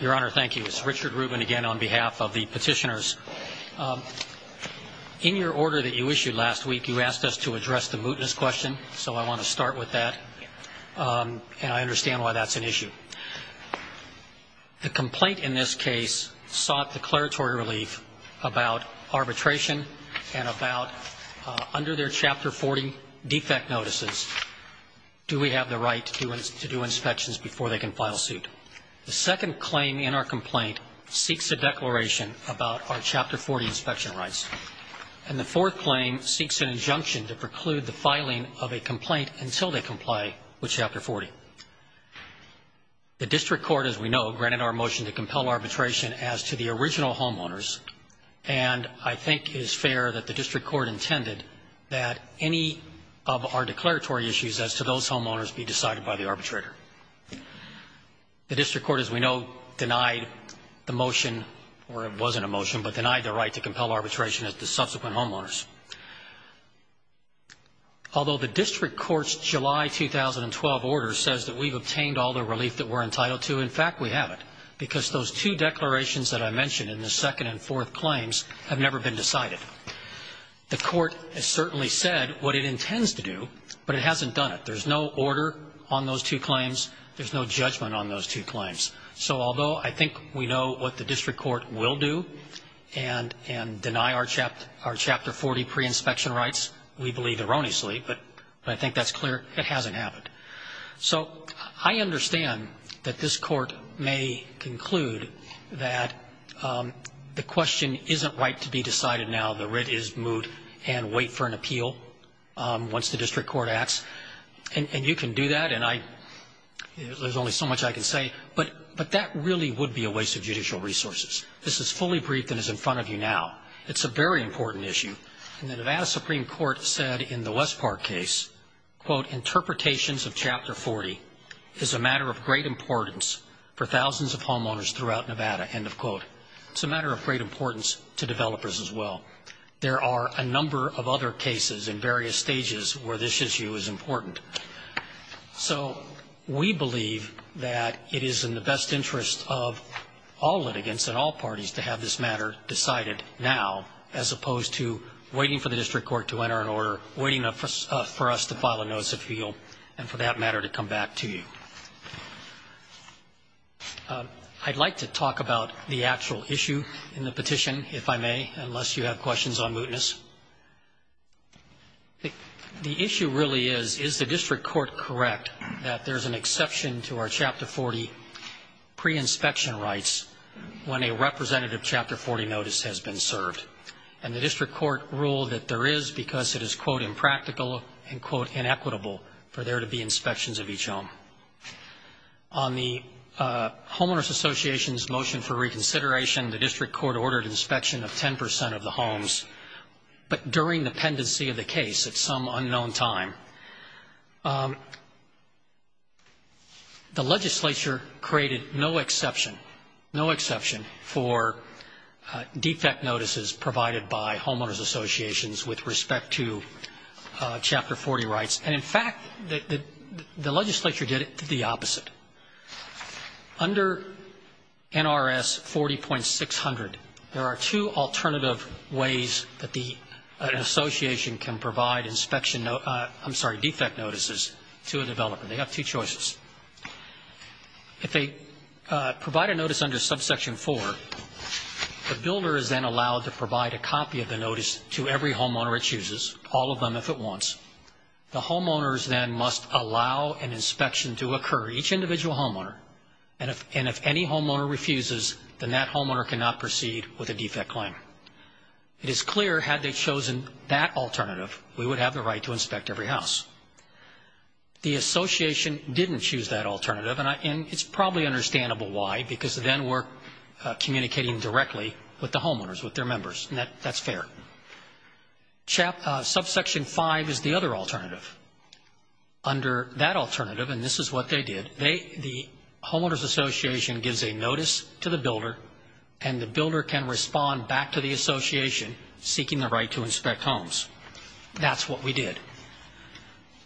Your Honor, thank you. It's Richard Rubin again on behalf of the petitioners. In your order that you issued last week, you asked us to address the mootness question, so I want to start with that. And I understand why that's an issue. The complaint in this case sought declaratory relief about arbitration and about under their Chapter 40 defect notices, do we have the right to do inspections before they can file suit. The second claim in our complaint seeks a declaration about our Chapter 40 inspection rights. And the fourth claim seeks an injunction to preclude the filing of a complaint until they comply with Chapter 40. The district court, as we know, granted our motion to compel arbitration as to the original homeowners, and I think it is fair that the district court intended that any of our declaratory issues as to those homeowners be decided by the arbitrator. The district court, as we know, denied the motion, or it wasn't a motion, but denied the right to compel arbitration as to subsequent homeowners. Although the district court's July 2012 order says that we've obtained all the relief that we're entitled to, in fact, we haven't. Because those two declarations that I mentioned in the second and fourth claims have never been decided. The court has certainly said what it intends to do, but it hasn't done it. There's no order on those two claims. There's no judgment on those two claims. So although I think we know what the district court will do and deny our Chapter 40 pre-inspection rights, we believe erroneously, but I think that's clear it hasn't happened. So I understand that this court may conclude that the question isn't right to be decided now. The writ is moot and wait for an appeal once the district court acts. And you can do that, and there's only so much I can say, but that really would be a waste of judicial resources. This is fully briefed and is in front of you now. It's a very important issue. And the Nevada Supreme Court said in the West Park case, quote, Interpretations of Chapter 40 is a matter of great importance for thousands of homeowners throughout Nevada, end of quote. It's a matter of great importance to developers as well. There are a number of other cases in various stages where this issue is important. So we believe that it is in the best interest of all litigants and all parties to have this matter decided now, as opposed to waiting for the district court to enter an order, waiting for us to file a notice of appeal, and for that matter to come back to you. I'd like to talk about the actual issue in the petition, if I may, unless you have questions on mootness. The issue really is, is the district court correct that there's an exception to our Chapter 40 pre-inspection rights when a representative Chapter 40 notice has been served? And the district court ruled that there is because it is, quote, Impractical and, quote, Inequitable for there to be inspections of each home. On the Homeowners Association's motion for reconsideration, the district court ordered inspection of 10% of the homes, but during the pendency of the case at some unknown time. The legislature created no exception, no exception for defect notices provided by Homeowners Associations with respect to Chapter 40 rights. And in fact, the legislature did it to the opposite. Under NRS 40.600, there are two alternative ways that the association can provide inspection, I'm sorry, defect notices to a developer. They have two choices. If they provide a notice under subsection four, the builder is then allowed to provide a copy of the notice to every homeowner it chooses, all of them if it wants. The homeowners then must allow an inspection to occur, each individual homeowner, and if any homeowner refuses, then that homeowner cannot proceed with a defect claim. It is clear had they chosen that alternative, we would have the right to inspect every house. The association didn't choose that alternative, and it's probably understandable why, because then we're communicating directly with the homeowners, with their members, and that's fair. Subsection five is the other alternative. Under that alternative, and this is what they did, the Homeowners Association gives a notice to the builder, and the builder can respond back to the association seeking the right to inspect homes. That's what we did.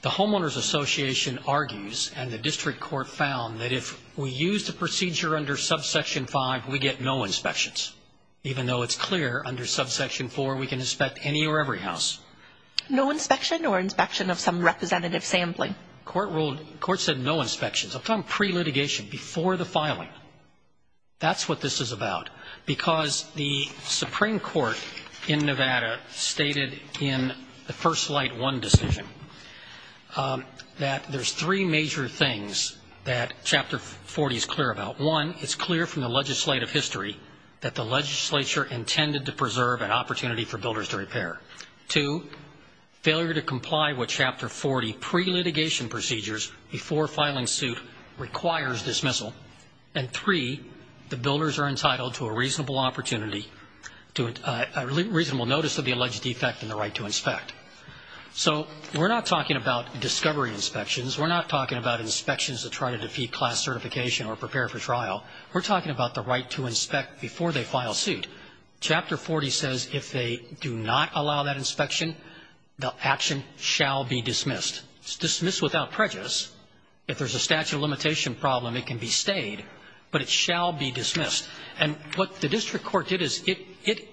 The Homeowners Association argues, and the district court found, that if we use the procedure under subsection five, we get no inspections, even though it's clear under subsection four we can inspect any or every house. No inspection or inspection of some representative sampling? The court said no inspections. I'm talking pre-litigation, before the filing. That's what this is about, because the Supreme Court in Nevada stated in the first slide one decision that there's three major things that Chapter 40 is clear about. One, it's clear from the legislative history that the legislature intended to preserve an opportunity for builders to repair. Two, failure to comply with Chapter 40 pre-litigation procedures before filing suit requires dismissal. And three, the builders are entitled to a reasonable opportunity, a reasonable notice of the alleged defect and the right to inspect. So we're not talking about discovery inspections. We're not talking about inspections to try to defeat class certification or prepare for trial. We're talking about the right to inspect before they file suit. Chapter 40 says if they do not allow that inspection, the action shall be dismissed. It's dismissed without prejudice. If there's a statute of limitation problem, it can be stayed, but it shall be dismissed. And what the district court did is it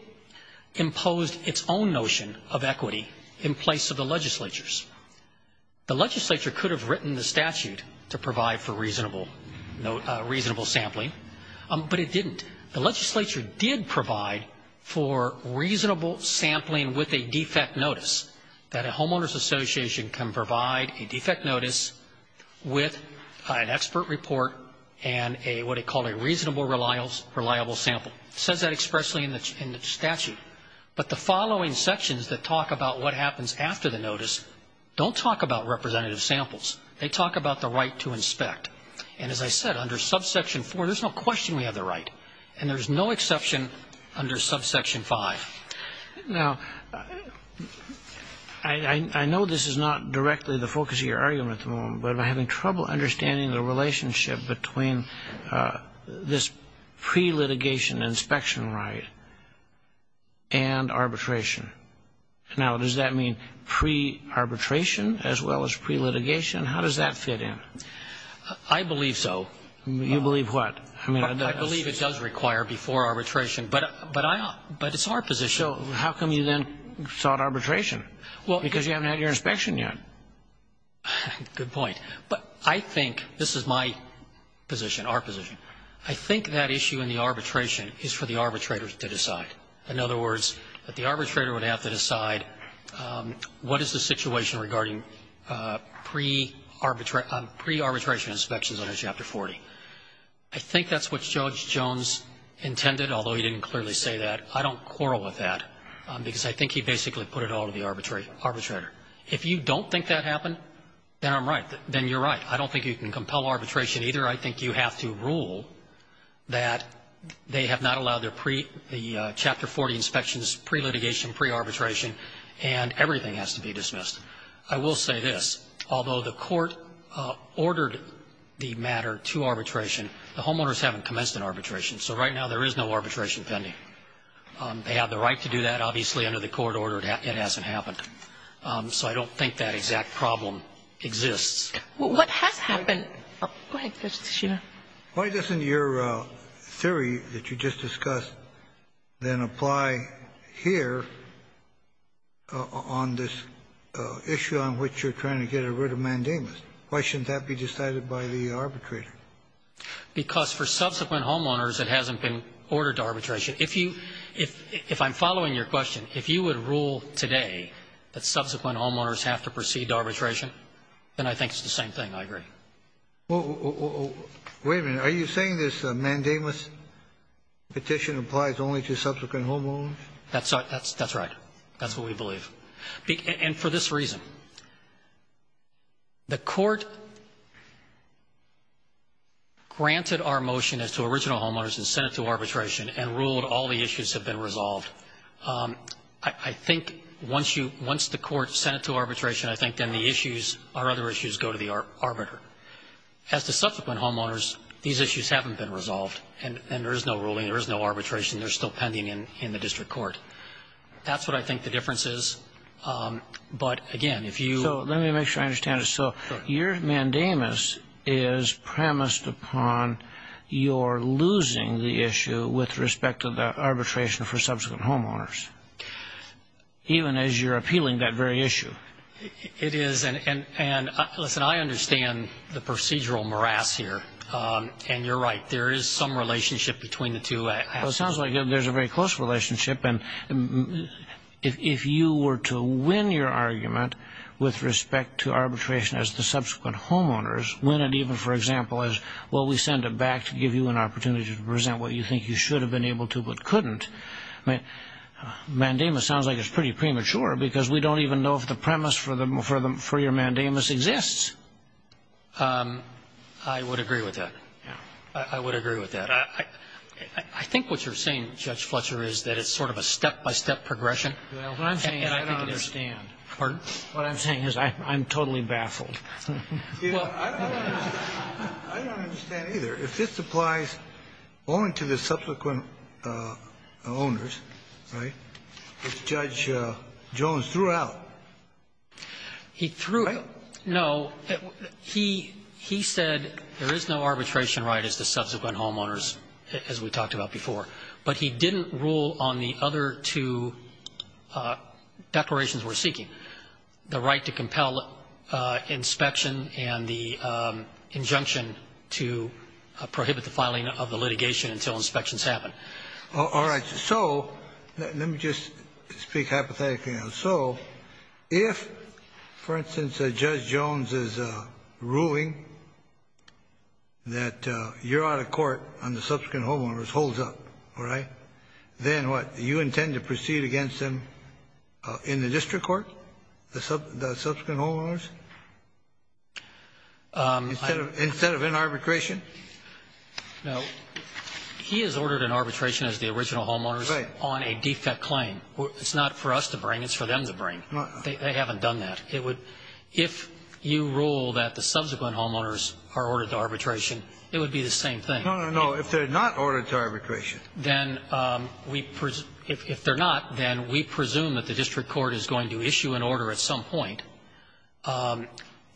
imposed its own notion of equity in place of the legislature's. The legislature could have written the statute to provide for reasonable sampling, but it didn't. The legislature did provide for reasonable sampling with a defect notice, that a homeowner's association can provide a defect notice with an expert report and what they call a reasonable reliable sample. It says that expressly in the statute. But the following sections that talk about what happens after the notice don't talk about representative samples. They talk about the right to inspect. And as I said, under subsection 4, there's no question we have the right. And there's no exception under subsection 5. Now, I know this is not directly the focus of your argument at the moment, but I'm having trouble understanding the relationship between this pre-litigation inspection right and arbitration. Now, does that mean pre-arbitration as well as pre-litigation? How does that fit in? I believe so. You believe what? I believe it does require before arbitration. But it's our position. So how come you then sought arbitration? Because you haven't had your inspection yet. Good point. But I think this is my position, our position. I think that issue in the arbitration is for the arbitrators to decide. In other words, the arbitrator would have to decide what is the situation regarding pre-arbitration inspections under Chapter 40. I think that's what Judge Jones intended, although he didn't clearly say that. I don't quarrel with that because I think he basically put it all to the arbitrator. If you don't think that happened, then I'm right. Then you're right. I don't think you can compel arbitration either. I think you have to rule that they have not allowed the Chapter 40 inspections pre-litigation, pre-arbitration, and everything has to be dismissed. I will say this. Although the court ordered the matter to arbitration, the homeowners haven't commenced an arbitration. So right now there is no arbitration pending. They have the right to do that. Obviously, under the court order, it hasn't happened. So I don't think that exact problem exists. What has happened? Go ahead, Justice Sotomayor. Why doesn't your theory that you just discussed then apply here on this issue on which you're trying to get rid of mandamus? Why shouldn't that be decided by the arbitrator? Because for subsequent homeowners, it hasn't been ordered to arbitration. If you – if I'm following your question, if you would rule today that subsequent That's the same thing, I agree. Wait a minute. Are you saying this mandamus petition applies only to subsequent homeowners? That's right. That's what we believe. And for this reason, the court granted our motion as to original homeowners and sent it to arbitration and ruled all the issues have been resolved. I think once you – once the court sent it to arbitration, I think then the issues or other issues go to the arbiter. As to subsequent homeowners, these issues haven't been resolved. And there is no ruling. There is no arbitration. They're still pending in the district court. That's what I think the difference is. But again, if you – So let me make sure I understand this. So your mandamus is premised upon your losing the issue with respect to the arbitration for subsequent homeowners, even as you're appealing that very issue? It is. And, listen, I understand the procedural morass here. And you're right. There is some relationship between the two aspects. Well, it sounds like there's a very close relationship. And if you were to win your argument with respect to arbitration as the subsequent homeowners, win it even, for example, as, well, we send it back to give you an opportunity to present what you think you should have been able to but couldn't, mandamus sounds like it's pretty premature because we don't even know if the premise for your mandamus exists. I would agree with that. I would agree with that. I think what you're saying, Judge Fletcher, is that it's sort of a step-by-step progression. What I'm saying is I'm totally baffled. I don't understand either. If this applies only to the subsequent owners, right, which Judge Jones threw out, right? No. He said there is no arbitration right as to subsequent homeowners, as we talked about before. But he didn't rule on the other two declarations we're seeking, the right to compel inspection and the injunction to prohibit the filing of the litigation until inspections happen. All right. So let me just speak hypothetically now. So if, for instance, Judge Jones is ruling that you're out of court and the subsequent homeowners holds up, all right, then what? You intend to proceed against them in the district court, the subsequent homeowners? Instead of in arbitration? No. He has ordered an arbitration as the original homeowners on a defect claim. It's not for us to bring. It's for them to bring. They haven't done that. If you rule that the subsequent homeowners are ordered to arbitration, it would be the same thing. No, no, no. If they're not ordered to arbitration. Then if they're not, then we presume that the district court is going to issue an order at some point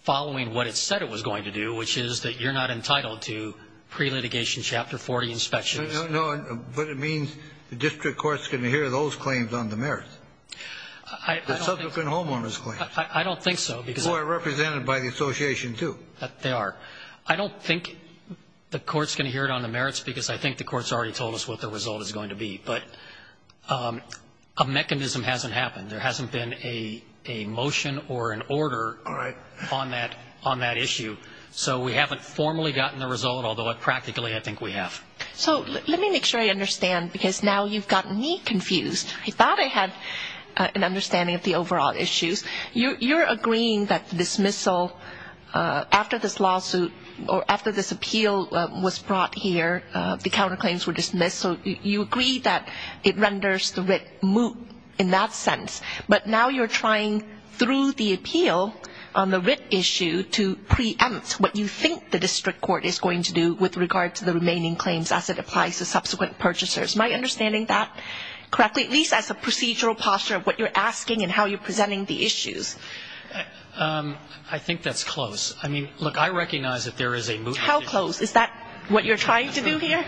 following what it said it was going to do, which is that you're not entitled to pre-litigation Chapter 40 inspections. No, no. But it means the district court is going to hear those claims on the merits, the subsequent homeowners claims. I don't think so. Who are represented by the association, too. They are. I don't think the court's going to hear it on the merits because I think the court's already told us what the result is going to be. But a mechanism hasn't happened. There hasn't been a motion or an order on that issue. So we haven't formally gotten the result, although practically I think we have. So let me make sure I understand because now you've gotten me confused. I thought I had an understanding of the overall issues. You're agreeing that dismissal after this lawsuit or after this appeal was brought here, the counterclaims were dismissed. So you agree that it renders the writ moot in that sense. But now you're trying through the appeal on the writ issue to preempt what you think the district court is going to do with regard to the remaining claims as it applies to subsequent purchasers. Am I understanding that correctly? At least as a procedural posture of what you're asking and how you're presenting the issues. I think that's close. Look, I recognize that there is a mootness issue. How close? Is that what you're trying to do here?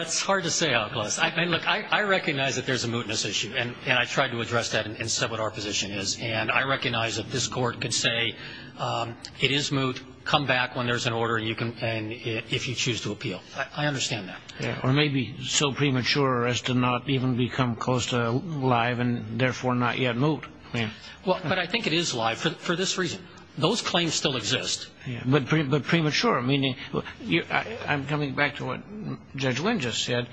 It's hard to say how close. Look, I recognize that there's a mootness issue, and I tried to address that and said what our position is. And I recognize that this court can say it is moot, come back when there's an order and if you choose to appeal. I understand that. Or maybe so premature as to not even become close to live and therefore not yet moot. But I think it is live for this reason. Those claims still exist. But premature, meaning I'm coming back to what Judge Wynn just said.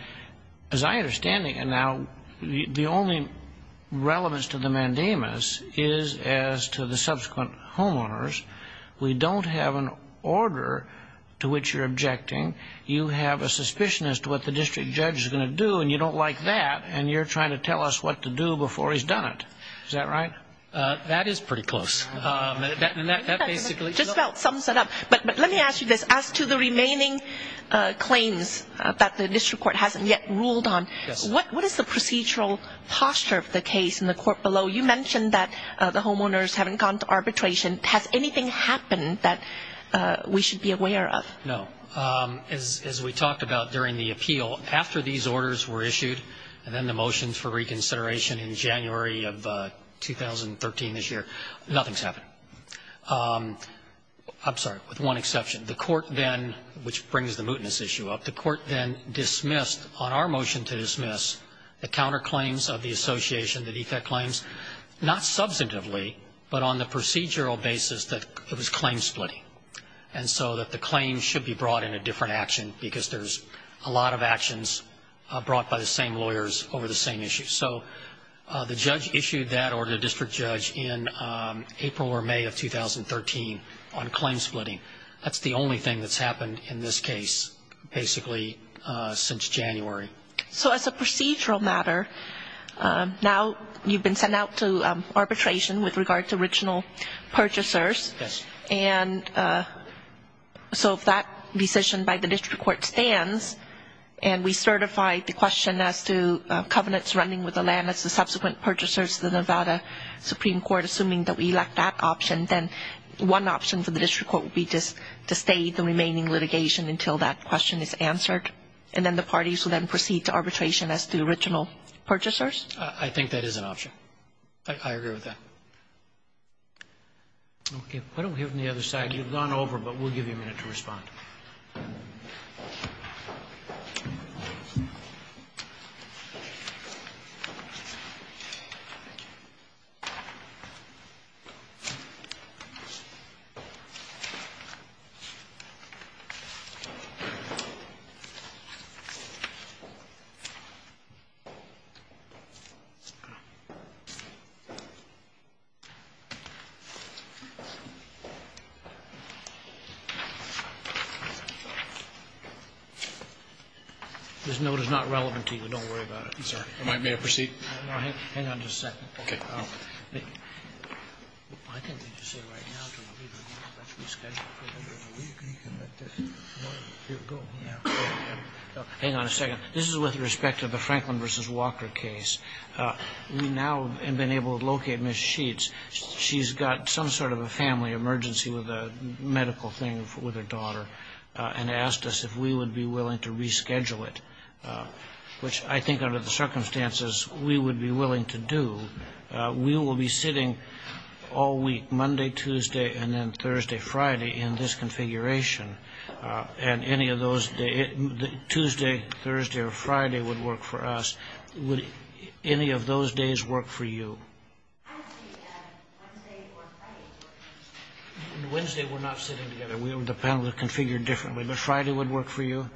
As I understand it now, the only relevance to the mandamus is as to the subsequent homeowners. We don't have an order to which you're objecting. You have a suspicion as to what the district judge is going to do, and you don't like that, and you're trying to tell us what to do before he's done it. Is that right? That is pretty close. And that basically. Just about sums it up. But let me ask you this. As to the remaining claims that the district court hasn't yet ruled on, what is the procedural posture of the case in the court below? You mentioned that the homeowners haven't gone to arbitration. Has anything happened that we should be aware of? No. As we talked about during the appeal, after these orders were issued and then the motions for reconsideration in January of 2013 this year, nothing's happened. I'm sorry, with one exception. The court then, which brings the mootness issue up, the court then dismissed, on our motion to dismiss, the counterclaims of the association, the defect claims, not substantively, but on the procedural basis that it was claim splitting. And so that the claims should be brought in a different action because there's a lot of actions brought by the same lawyers over the same issues. So the judge issued that order to the district judge in April or May of 2013 on claim splitting. That's the only thing that's happened in this case, basically, since January. So as a procedural matter, now you've been sent out to arbitration with regard to original purchasers. Yes. And so if that decision by the district court stands and we certify the question as to covenants running with the land as the subsequent purchasers to the Nevada Supreme Court, assuming that we elect that option, then one option for the district court would be just to stay the remaining litigation until that question is answered, and then the parties will then proceed to arbitration as to the original purchasers? I think that is an option. I agree with that. Okay. Why don't we have them on the other side? You've gone over, but we'll give you a minute to respond. This note is not relevant to you. Don't worry about it. May I proceed? Hang on just a second. Okay. Hang on a second. This is with respect to the Franklin v. Walker case. We now have been able to locate Ms. Sheets. She's got some sort of a family emergency with a medical thing with her daughter and asked us if we would be willing to reschedule it, which I think under the circumstances we would be willing to do. We will be sitting all week, Monday, Tuesday, and then Thursday, Friday, in this configuration, and any of those days, Tuesday, Thursday, or Friday would work for us. Would any of those days work for you? On Wednesday, we're not sitting together. The panel is configured differently, but Friday would work for you?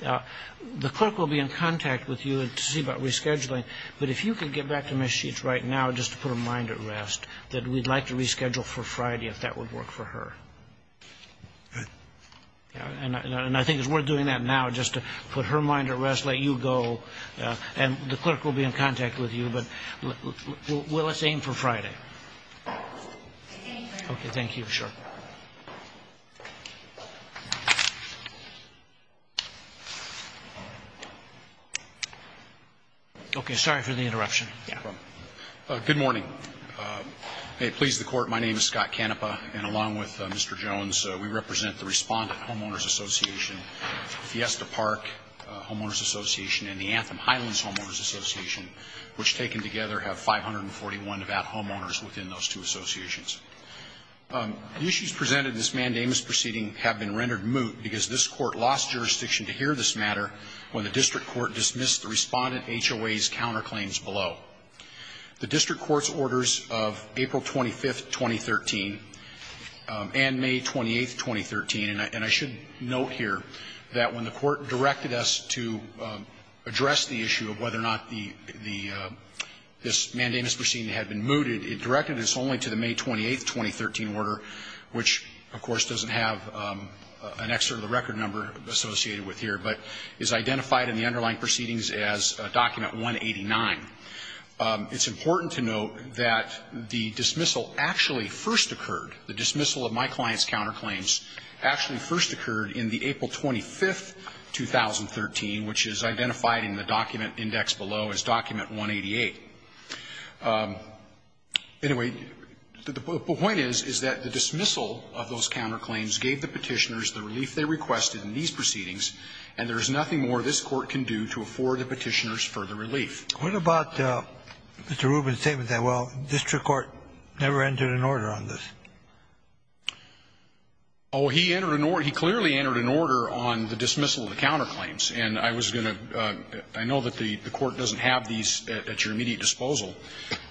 The clerk will be in contact with you to see about rescheduling, but if you could get back to Ms. Sheets right now just to put her mind at rest, that we'd like to reschedule for Friday if that would work for her. And I think it's worth doing that now just to put her mind at rest, let you go, and the clerk will be in contact with you, but let's aim for Friday. Okay. Thank you. Sure. Okay. Sorry for the interruption. Yeah. Good morning. May it please the Court, my name is Scott Canepa, and along with Mr. Jones, we represent the Respondent Homeowners Association, Fiesta Park Homeowners Association, and the Anthem Highlands Homeowners Association, which taken together have 541 Nevada homeowners within those two associations. The issues presented in this mandamus proceeding have been rendered moot because this Court lost jurisdiction to hear this matter when the district court dismissed the Respondent HOA's counterclaims below. The district court's orders of April 25th, 2013, and May 28th, 2013, and I should note here that when the court directed us to address the issue of whether or not the this mandamus proceeding had been mooted, it directed us only to the May 28th, 2013 order, which, of course, doesn't have an excerpt of the record number associated with here, but is identified in the underlying proceedings as document 189. It's important to note that the dismissal actually first occurred, the dismissal of my client's counterclaims actually first occurred in the April 25th, 2013, which is identified in the document indexed below as document 188. Anyway, the point is, is that the dismissal of those counterclaims gave the Petitioners the relief they requested in these proceedings, and there is nothing more this Court can do to afford the Petitioners further relief. What about Mr. Rubin's statement that, well, district court never entered an order on this? Oh, he entered an order. He clearly entered an order on the dismissal of the counterclaims. And I was going to – I know that the court doesn't have these at your immediate disposal.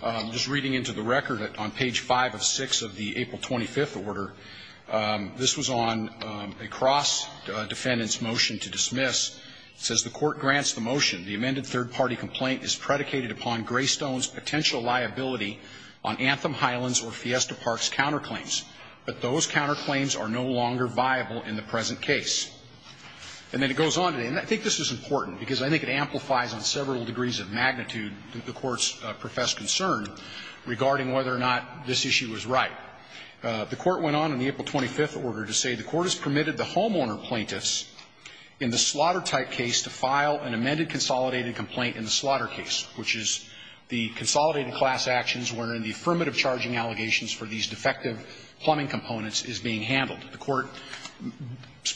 I'm just reading into the record that on page 5 of 6 of the April 25th order, this was on a cross-defendant's motion to dismiss. It says the court grants the motion the amended third-party complaint is predicated upon Greystone's potential liability on Anthem Highlands or Fiesta Park's counterclaims, but those counterclaims are no longer viable in the present case. And then it goes on to say, and I think this is important, because I think it amplifies on several degrees of magnitude the court's professed concern regarding whether or not this issue was right. The court went on in the April 25th order to say the court has permitted the homeowner plaintiffs in the slaughter-type case to file an amended consolidated complaint in the slaughter case, which is the consolidated class actions wherein the affirmative charging allegations for these defective plumbing components is being handled. The court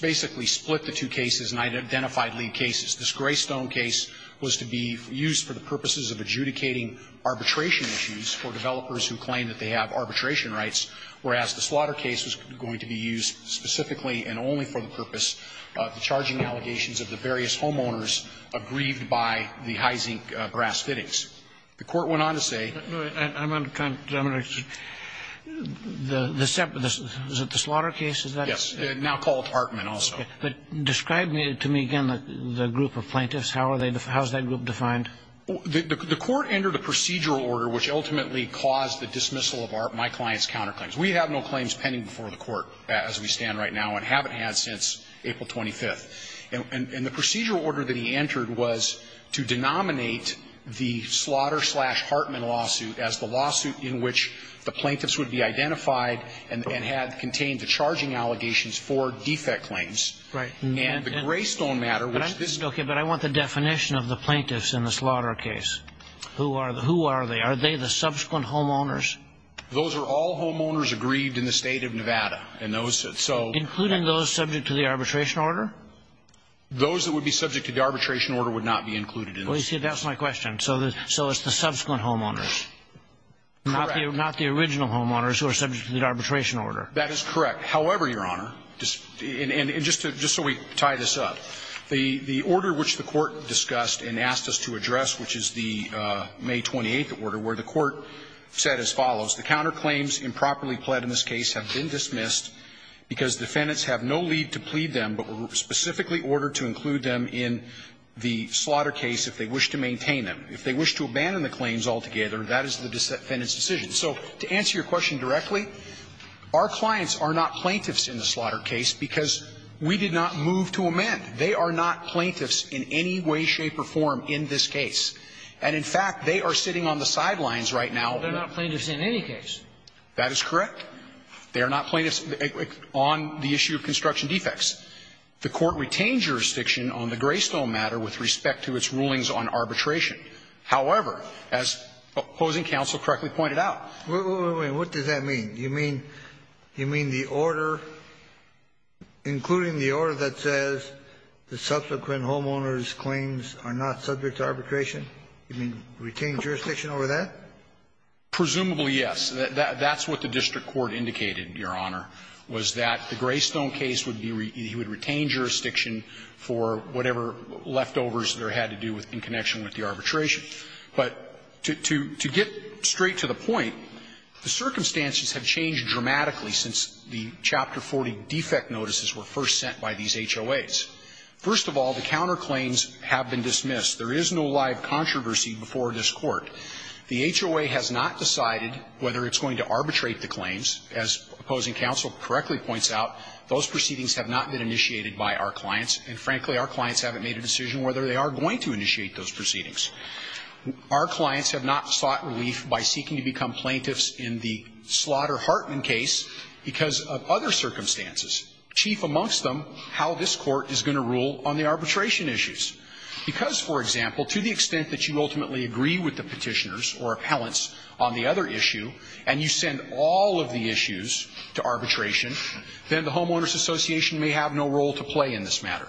basically split the two cases and identified lead cases. This Greystone case was to be used for the purposes of adjudicating arbitration issues for developers who claim that they have arbitration rights, whereas the slaughter case was going to be used specifically and only for the purpose of the charging allegations of the various homeowners aggrieved by the high-zinc brass fittings. The court went on to say the separate, is it the slaughter case? Is that? Yes, now called Hartman also. But describe to me again the group of plaintiffs. How are they, how is that group defined? The court entered a procedural order which ultimately caused the dismissal of my client's counterclaims. We have no claims pending before the court as we stand right now and haven't had since April 25th. And the procedural order that he entered was to denominate the slaughter-slash-Hartman lawsuit as the lawsuit in which the plaintiffs would be identified and had contained the charging allegations for defect claims. Right. And the Greystone matter, which this is. Okay, but I want the definition of the plaintiffs in the slaughter case. Who are they? Are they the subsequent homeowners? Those are all homeowners aggrieved in the state of Nevada. And those, so. Including those subject to the arbitration order? Those that would be subject to the arbitration order would not be included in the lawsuit. Well, you see, that's my question. So it's the subsequent homeowners. Correct. Not the original homeowners who are subject to the arbitration order. That is correct. However, Your Honor, and just so we tie this up. The order which the Court discussed and asked us to address, which is the May 28th order, where the Court said as follows. The counterclaims improperly pled in this case have been dismissed because defendants have no lead to plead them, but were specifically ordered to include them in the slaughter case if they wish to maintain them. If they wish to abandon the claims altogether, that is the defendant's decision. So to answer your question directly, our clients are not plaintiffs in the slaughter case because we did not move to amend. They are not plaintiffs in any way, shape, or form in this case. And in fact, they are sitting on the sidelines right now. They are not plaintiffs in any case. That is correct. They are not plaintiffs on the issue of construction defects. The Court retained jurisdiction on the Greystone matter with respect to its rulings on arbitration. However, as opposing counsel correctly pointed out. Wait, wait, wait. What does that mean? Do you mean the order, including the order that says the subsequent homeowner's claims are not subject to arbitration? You mean retain jurisdiction over that? Presumably, yes. That's what the district court indicated, Your Honor, was that the Greystone case would be he would retain jurisdiction for whatever leftovers there had to do with in connection with the arbitration. But to get straight to the point, the circumstances have changed dramatically since the Chapter 40 defect notices were first sent by these HOAs. First of all, the counterclaims have been dismissed. There is no live controversy before this Court. The HOA has not decided whether it's going to arbitrate the claims. As opposing counsel correctly points out, those proceedings have not been initiated by our clients, and frankly, our clients haven't made a decision whether they are going to initiate those proceedings. Our clients have not sought relief by seeking to become plaintiffs in the Slaughter-Hartman case because of other circumstances, chief amongst them, how this Court is going to rule on the arbitration issues. Because, for example, to the extent that you ultimately agree with the petitioners or appellants on the other issue, and you send all of the issues to arbitration, then the homeowners association may have no role to play in this matter.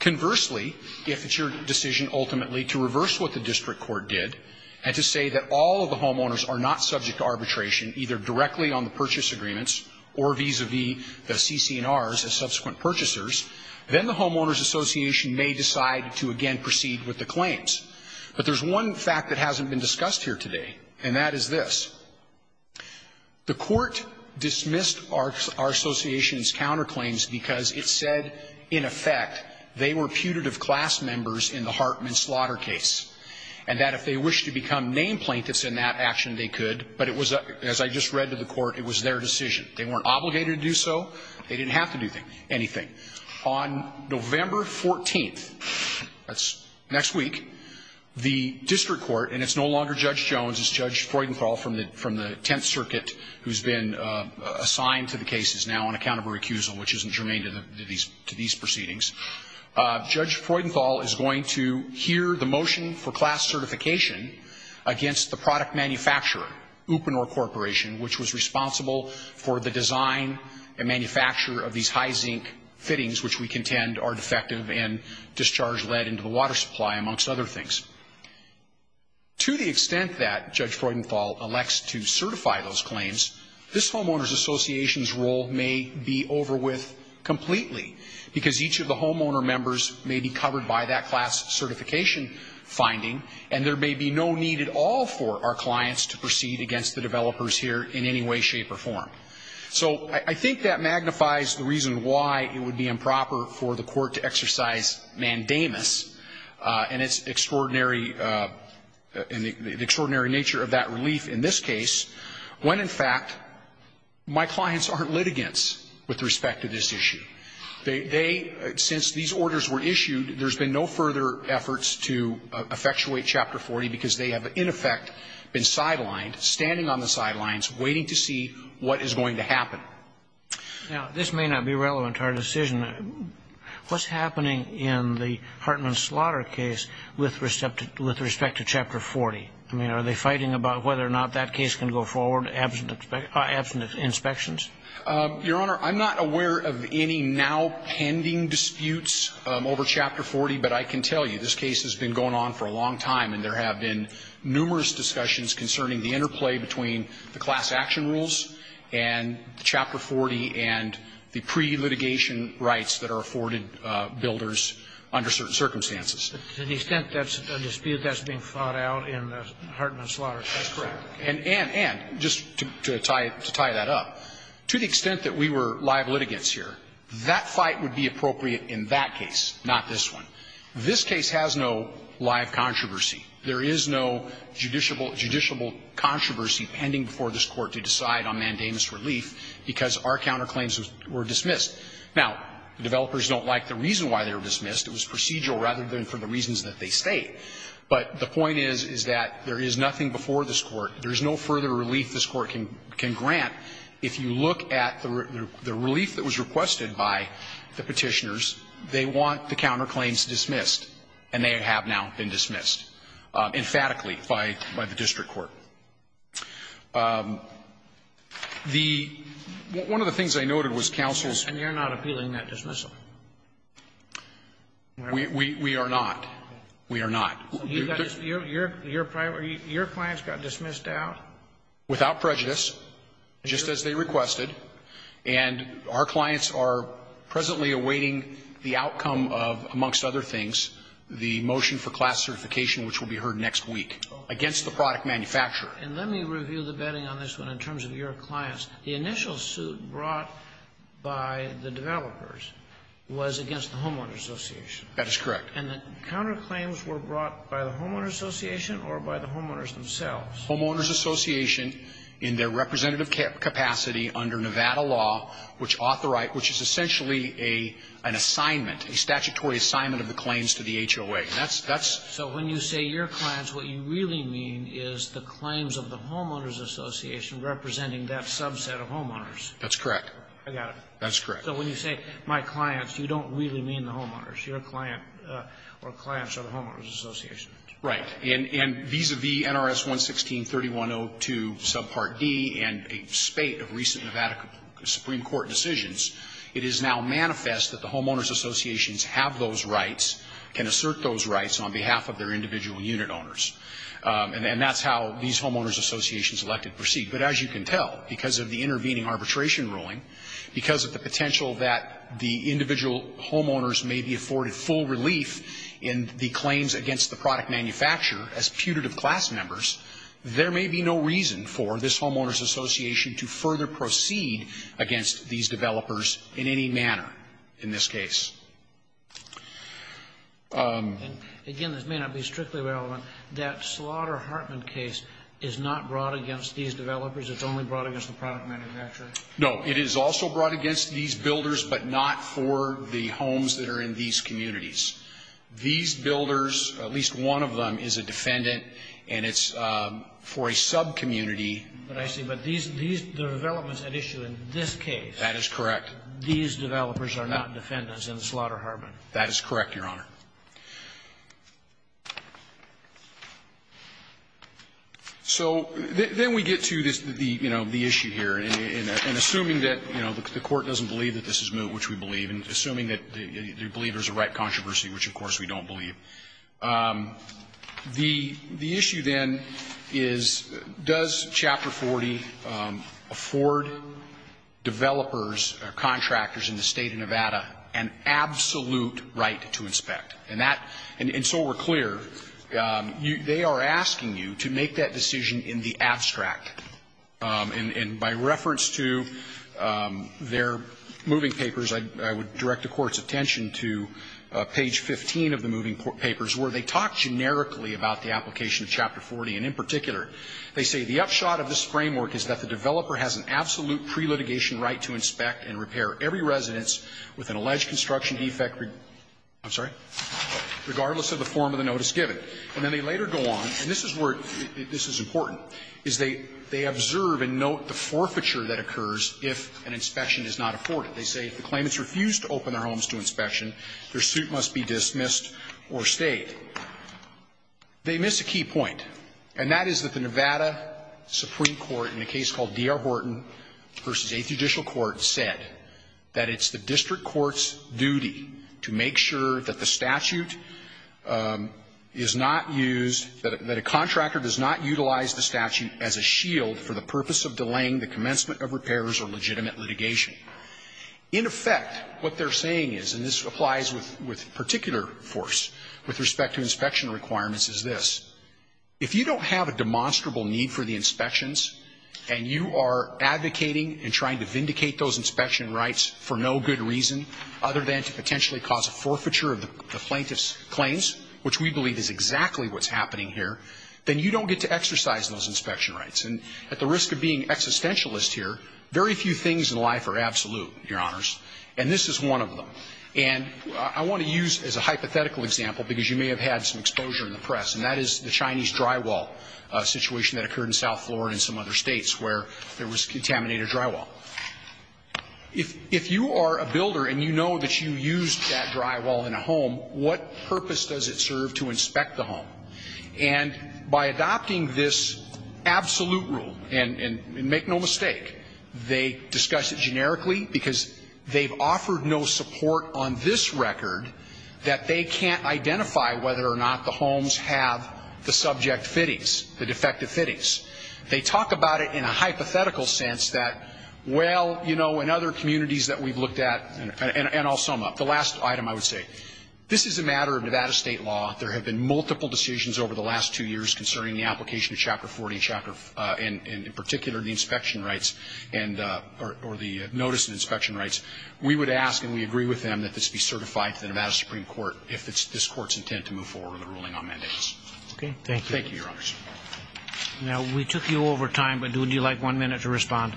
Conversely, if it's your decision ultimately to reverse what the district court did and to say that all of the homeowners are not subject to arbitration, either directly on the purchase agreements or vis-a-vis the CC&Rs as subsequent purchasers, then the homeowners association may decide to again proceed with the claims. But there's one fact that hasn't been discussed here today, and that is this. The Court dismissed our association's counterclaims because it said, in effect, they were putative class members in the Hartman Slaughter case, and that if they wished to become named plaintiffs in that action, they could, but it was, as I just read to the Court, it was their decision. They weren't obligated to do so. They didn't have to do anything. On November 14th, that's next week, the district court, and it's no longer Judge Jones, it's Judge Freudenthal from the Tenth Circuit who's been assigned to the cases now on account of her accusal, which isn't germane to these proceedings. Judge Freudenthal is going to hear the motion for class certification against the product manufacturer, Upinor Corporation, which was responsible for the design and manufacture of these high zinc fittings, which we contend are defective and discharge lead into the water supply, amongst other things. To the extent that Judge Freudenthal elects to certify those claims, this homeowner's association's role may be over with completely, because each of the homeowner members may be covered by that class certification finding, and there may be no need at all for our clients to proceed against the developers here in any way, shape, or form. So I think that magnifies the reason why it would be improper for the Court to exercise mandamus, and it's extraordinary, and the extraordinary nature of that when, in fact, my clients aren't litigants with respect to this issue. They, since these orders were issued, there's been no further efforts to effectuate Chapter 40, because they have, in effect, been sidelined, standing on the sidelines waiting to see what is going to happen. Now, this may not be relevant to our decision. What's happening in the Hartman Slaughter case with respect to Chapter 40? I mean, are they fighting about whether or not that case can go forward absent inspections? Your Honor, I'm not aware of any now-pending disputes over Chapter 40, but I can tell you this case has been going on for a long time, and there have been numerous discussions concerning the interplay between the class action rules and Chapter 40 and the pre-litigation rights that are afforded builders under certain circumstances. But to the extent that's a dispute that's being fought out in the Hartman Slaughter case? That's correct. And, and, and, just to tie that up, to the extent that we were live litigants here, that fight would be appropriate in that case, not this one. This case has no live controversy. There is no judiciable controversy pending before this Court to decide on mandamus relief, because our counterclaims were dismissed. Now, the developers don't like the reason why they were dismissed. It was procedural rather than for the reasons that they state. But the point is, is that there is nothing before this Court. There is no further relief this Court can grant. If you look at the relief that was requested by the Petitioners, they want the counterclaims dismissed, and they have now been dismissed emphatically by, by the district court. The one of the things I noted was counsel's. And you're not appealing that dismissal. We, we, we are not. We are not. Your, your, your clients got dismissed out? Without prejudice, just as they requested. And our clients are presently awaiting the outcome of, amongst other things, the motion for class certification, which will be heard next week, against the product manufacturer. And let me review the betting on this one in terms of your clients. The initial suit brought by the developers was against the Homeowners Association. That is correct. And the counterclaims were brought by the Homeowners Association or by the homeowners themselves? Homeowners Association, in their representative capacity under Nevada law, which authorize, which is essentially a, an assignment, a statutory assignment of the claims to the HOA. And that's, that's. So when you say your clients, what you really mean is the claims of the subset of homeowners. That's correct. I got it. That's correct. So when you say my clients, you don't really mean the homeowners. Your client or clients are the Homeowners Association. Right. And, and vis-a-vis NRS 116-3102 subpart D and a spate of recent Nevada Supreme Court decisions, it is now manifest that the Homeowners Associations have those rights, can assert those rights on behalf of their individual unit owners. And, and that's how these Homeowners Associations elected proceed. But as you can tell, because of the intervening arbitration ruling, because of the potential that the individual homeowners may be afforded full relief in the claims against the product manufacturer as putative class members, there may be no reason for this Homeowners Association to further proceed against these developers in any manner in this case. And again, this may not be strictly relevant, that Slaughter-Hartman case is not brought against these developers. It's only brought against the product manufacturer. No. It is also brought against these builders, but not for the homes that are in these communities. These builders, at least one of them is a defendant, and it's for a subcommunity. But I see. But these, these, the developments at issue in this case. That is correct. These developers are not defendants in the Slaughter-Hartman. That is correct, Your Honor. So then we get to the, you know, the issue here. And assuming that, you know, the Court doesn't believe that this is moot, which we believe, and assuming that the believers are right controversy, which of course we don't believe. The issue then is, does Chapter 40 afford developers or contractors in the State of Nevada an absolute right to inspect? And that, and so we're clear, they are asking you to make that decision in the abstract. And by reference to their moving papers, I would direct the Court's attention to page 15 of the moving papers, where they talk generically about the application of Chapter 40. And in particular, they say, The upshot of this framework is that the developer has an absolute pre-litigation right to inspect and repair every residence with an alleged construction defect regardless of the form of the notice given. And then they later go on, and this is where this is important, is they observe and note the forfeiture that occurs if an inspection is not afforded. They say if the claimants refuse to open their homes to inspection, their suit must be dismissed or stayed. They miss a key point. And that is that the Nevada Supreme Court in a case called D.R. Horton v. Eighth Judicial Court said that it's the district court's duty to make sure that the statute is not used, that a contractor does not utilize the statute as a shield for the purpose of delaying the commencement of repairs or legitimate litigation. In effect, what they're saying is, and this applies with particular force with respect to inspection requirements, is this. If you don't have a demonstrable need for the inspections and you are advocating and trying to vindicate those inspection rights for no good reason other than to potentially cause a forfeiture of the plaintiff's claims, which we believe is exactly what's happening here, then you don't get to exercise those inspection rights. And at the risk of being existentialist here, very few things in life are absolute, Your Honors, and this is one of them. And I want to use as a hypothetical example, because you may have had some exposure in the press, and that is the Chinese drywall situation that occurred in South Florida and some other states where there was contaminated drywall. If you are a builder and you know that you used that drywall in a home, what purpose does it serve to inspect the home? And by adopting this absolute rule, and make no mistake, they discuss it generically because they've offered no support on this record that they can't identify whether or not the homes have the subject fittings, the defective fittings. They talk about it in a hypothetical sense that, well, you know, in other communities that we've looked at, and I'll sum up. The last item I would say, this is a matter of Nevada state law. There have been multiple decisions over the last two years concerning the application and, in particular, the inspection rights and or the notice of inspection rights. We would ask, and we agree with them, that this be certified to the Nevada Supreme Court if this Court's intent to move forward with a ruling on mandates. Thank you, Your Honors. Roberts. Roberts. Now, we took you over time, but would you like one minute to respond?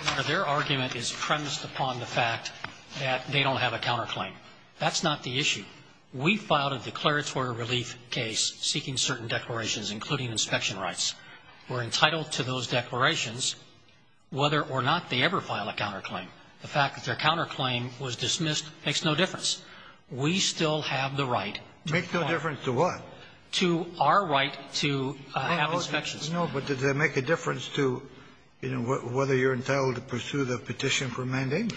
Your Honor, their argument is premised upon the fact that they don't have a counterclaim. That's not the issue. We filed a declaratory relief case seeking certain declarations, including inspection rights. We're entitled to those declarations whether or not they ever file a counterclaim. The fact that their counterclaim was dismissed makes no difference. We still have the right. Makes no difference to what? To our right to have inspections. No, but does that make a difference to, you know, whether you're entitled to pursue the petition for mandatement?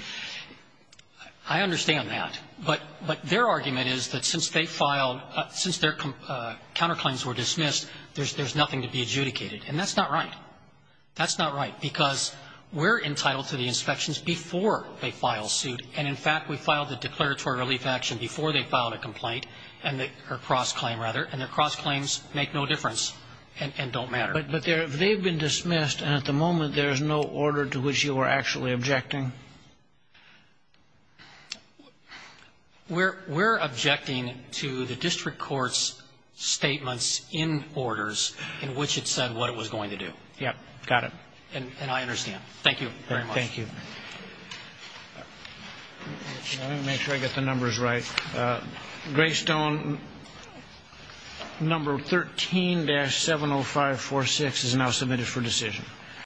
I understand that. But their argument is that since they filed, since their counterclaims were dismissed, there's nothing to be adjudicated. And that's not right. That's not right, because we're entitled to the inspections before they file suit. And, in fact, we filed the declaratory relief action before they filed a complaint and their cross-claim, rather. And their cross-claims make no difference and don't matter. But they've been dismissed, and at the moment there is no order to which you are actually objecting? We're objecting to the district court's statements in orders in which it said what it was going to do. Yep. Got it. And I understand. Thank you very much. Thank you. Let me make sure I get the numbers right. Greystone number 13-70546 is now submitted for decision.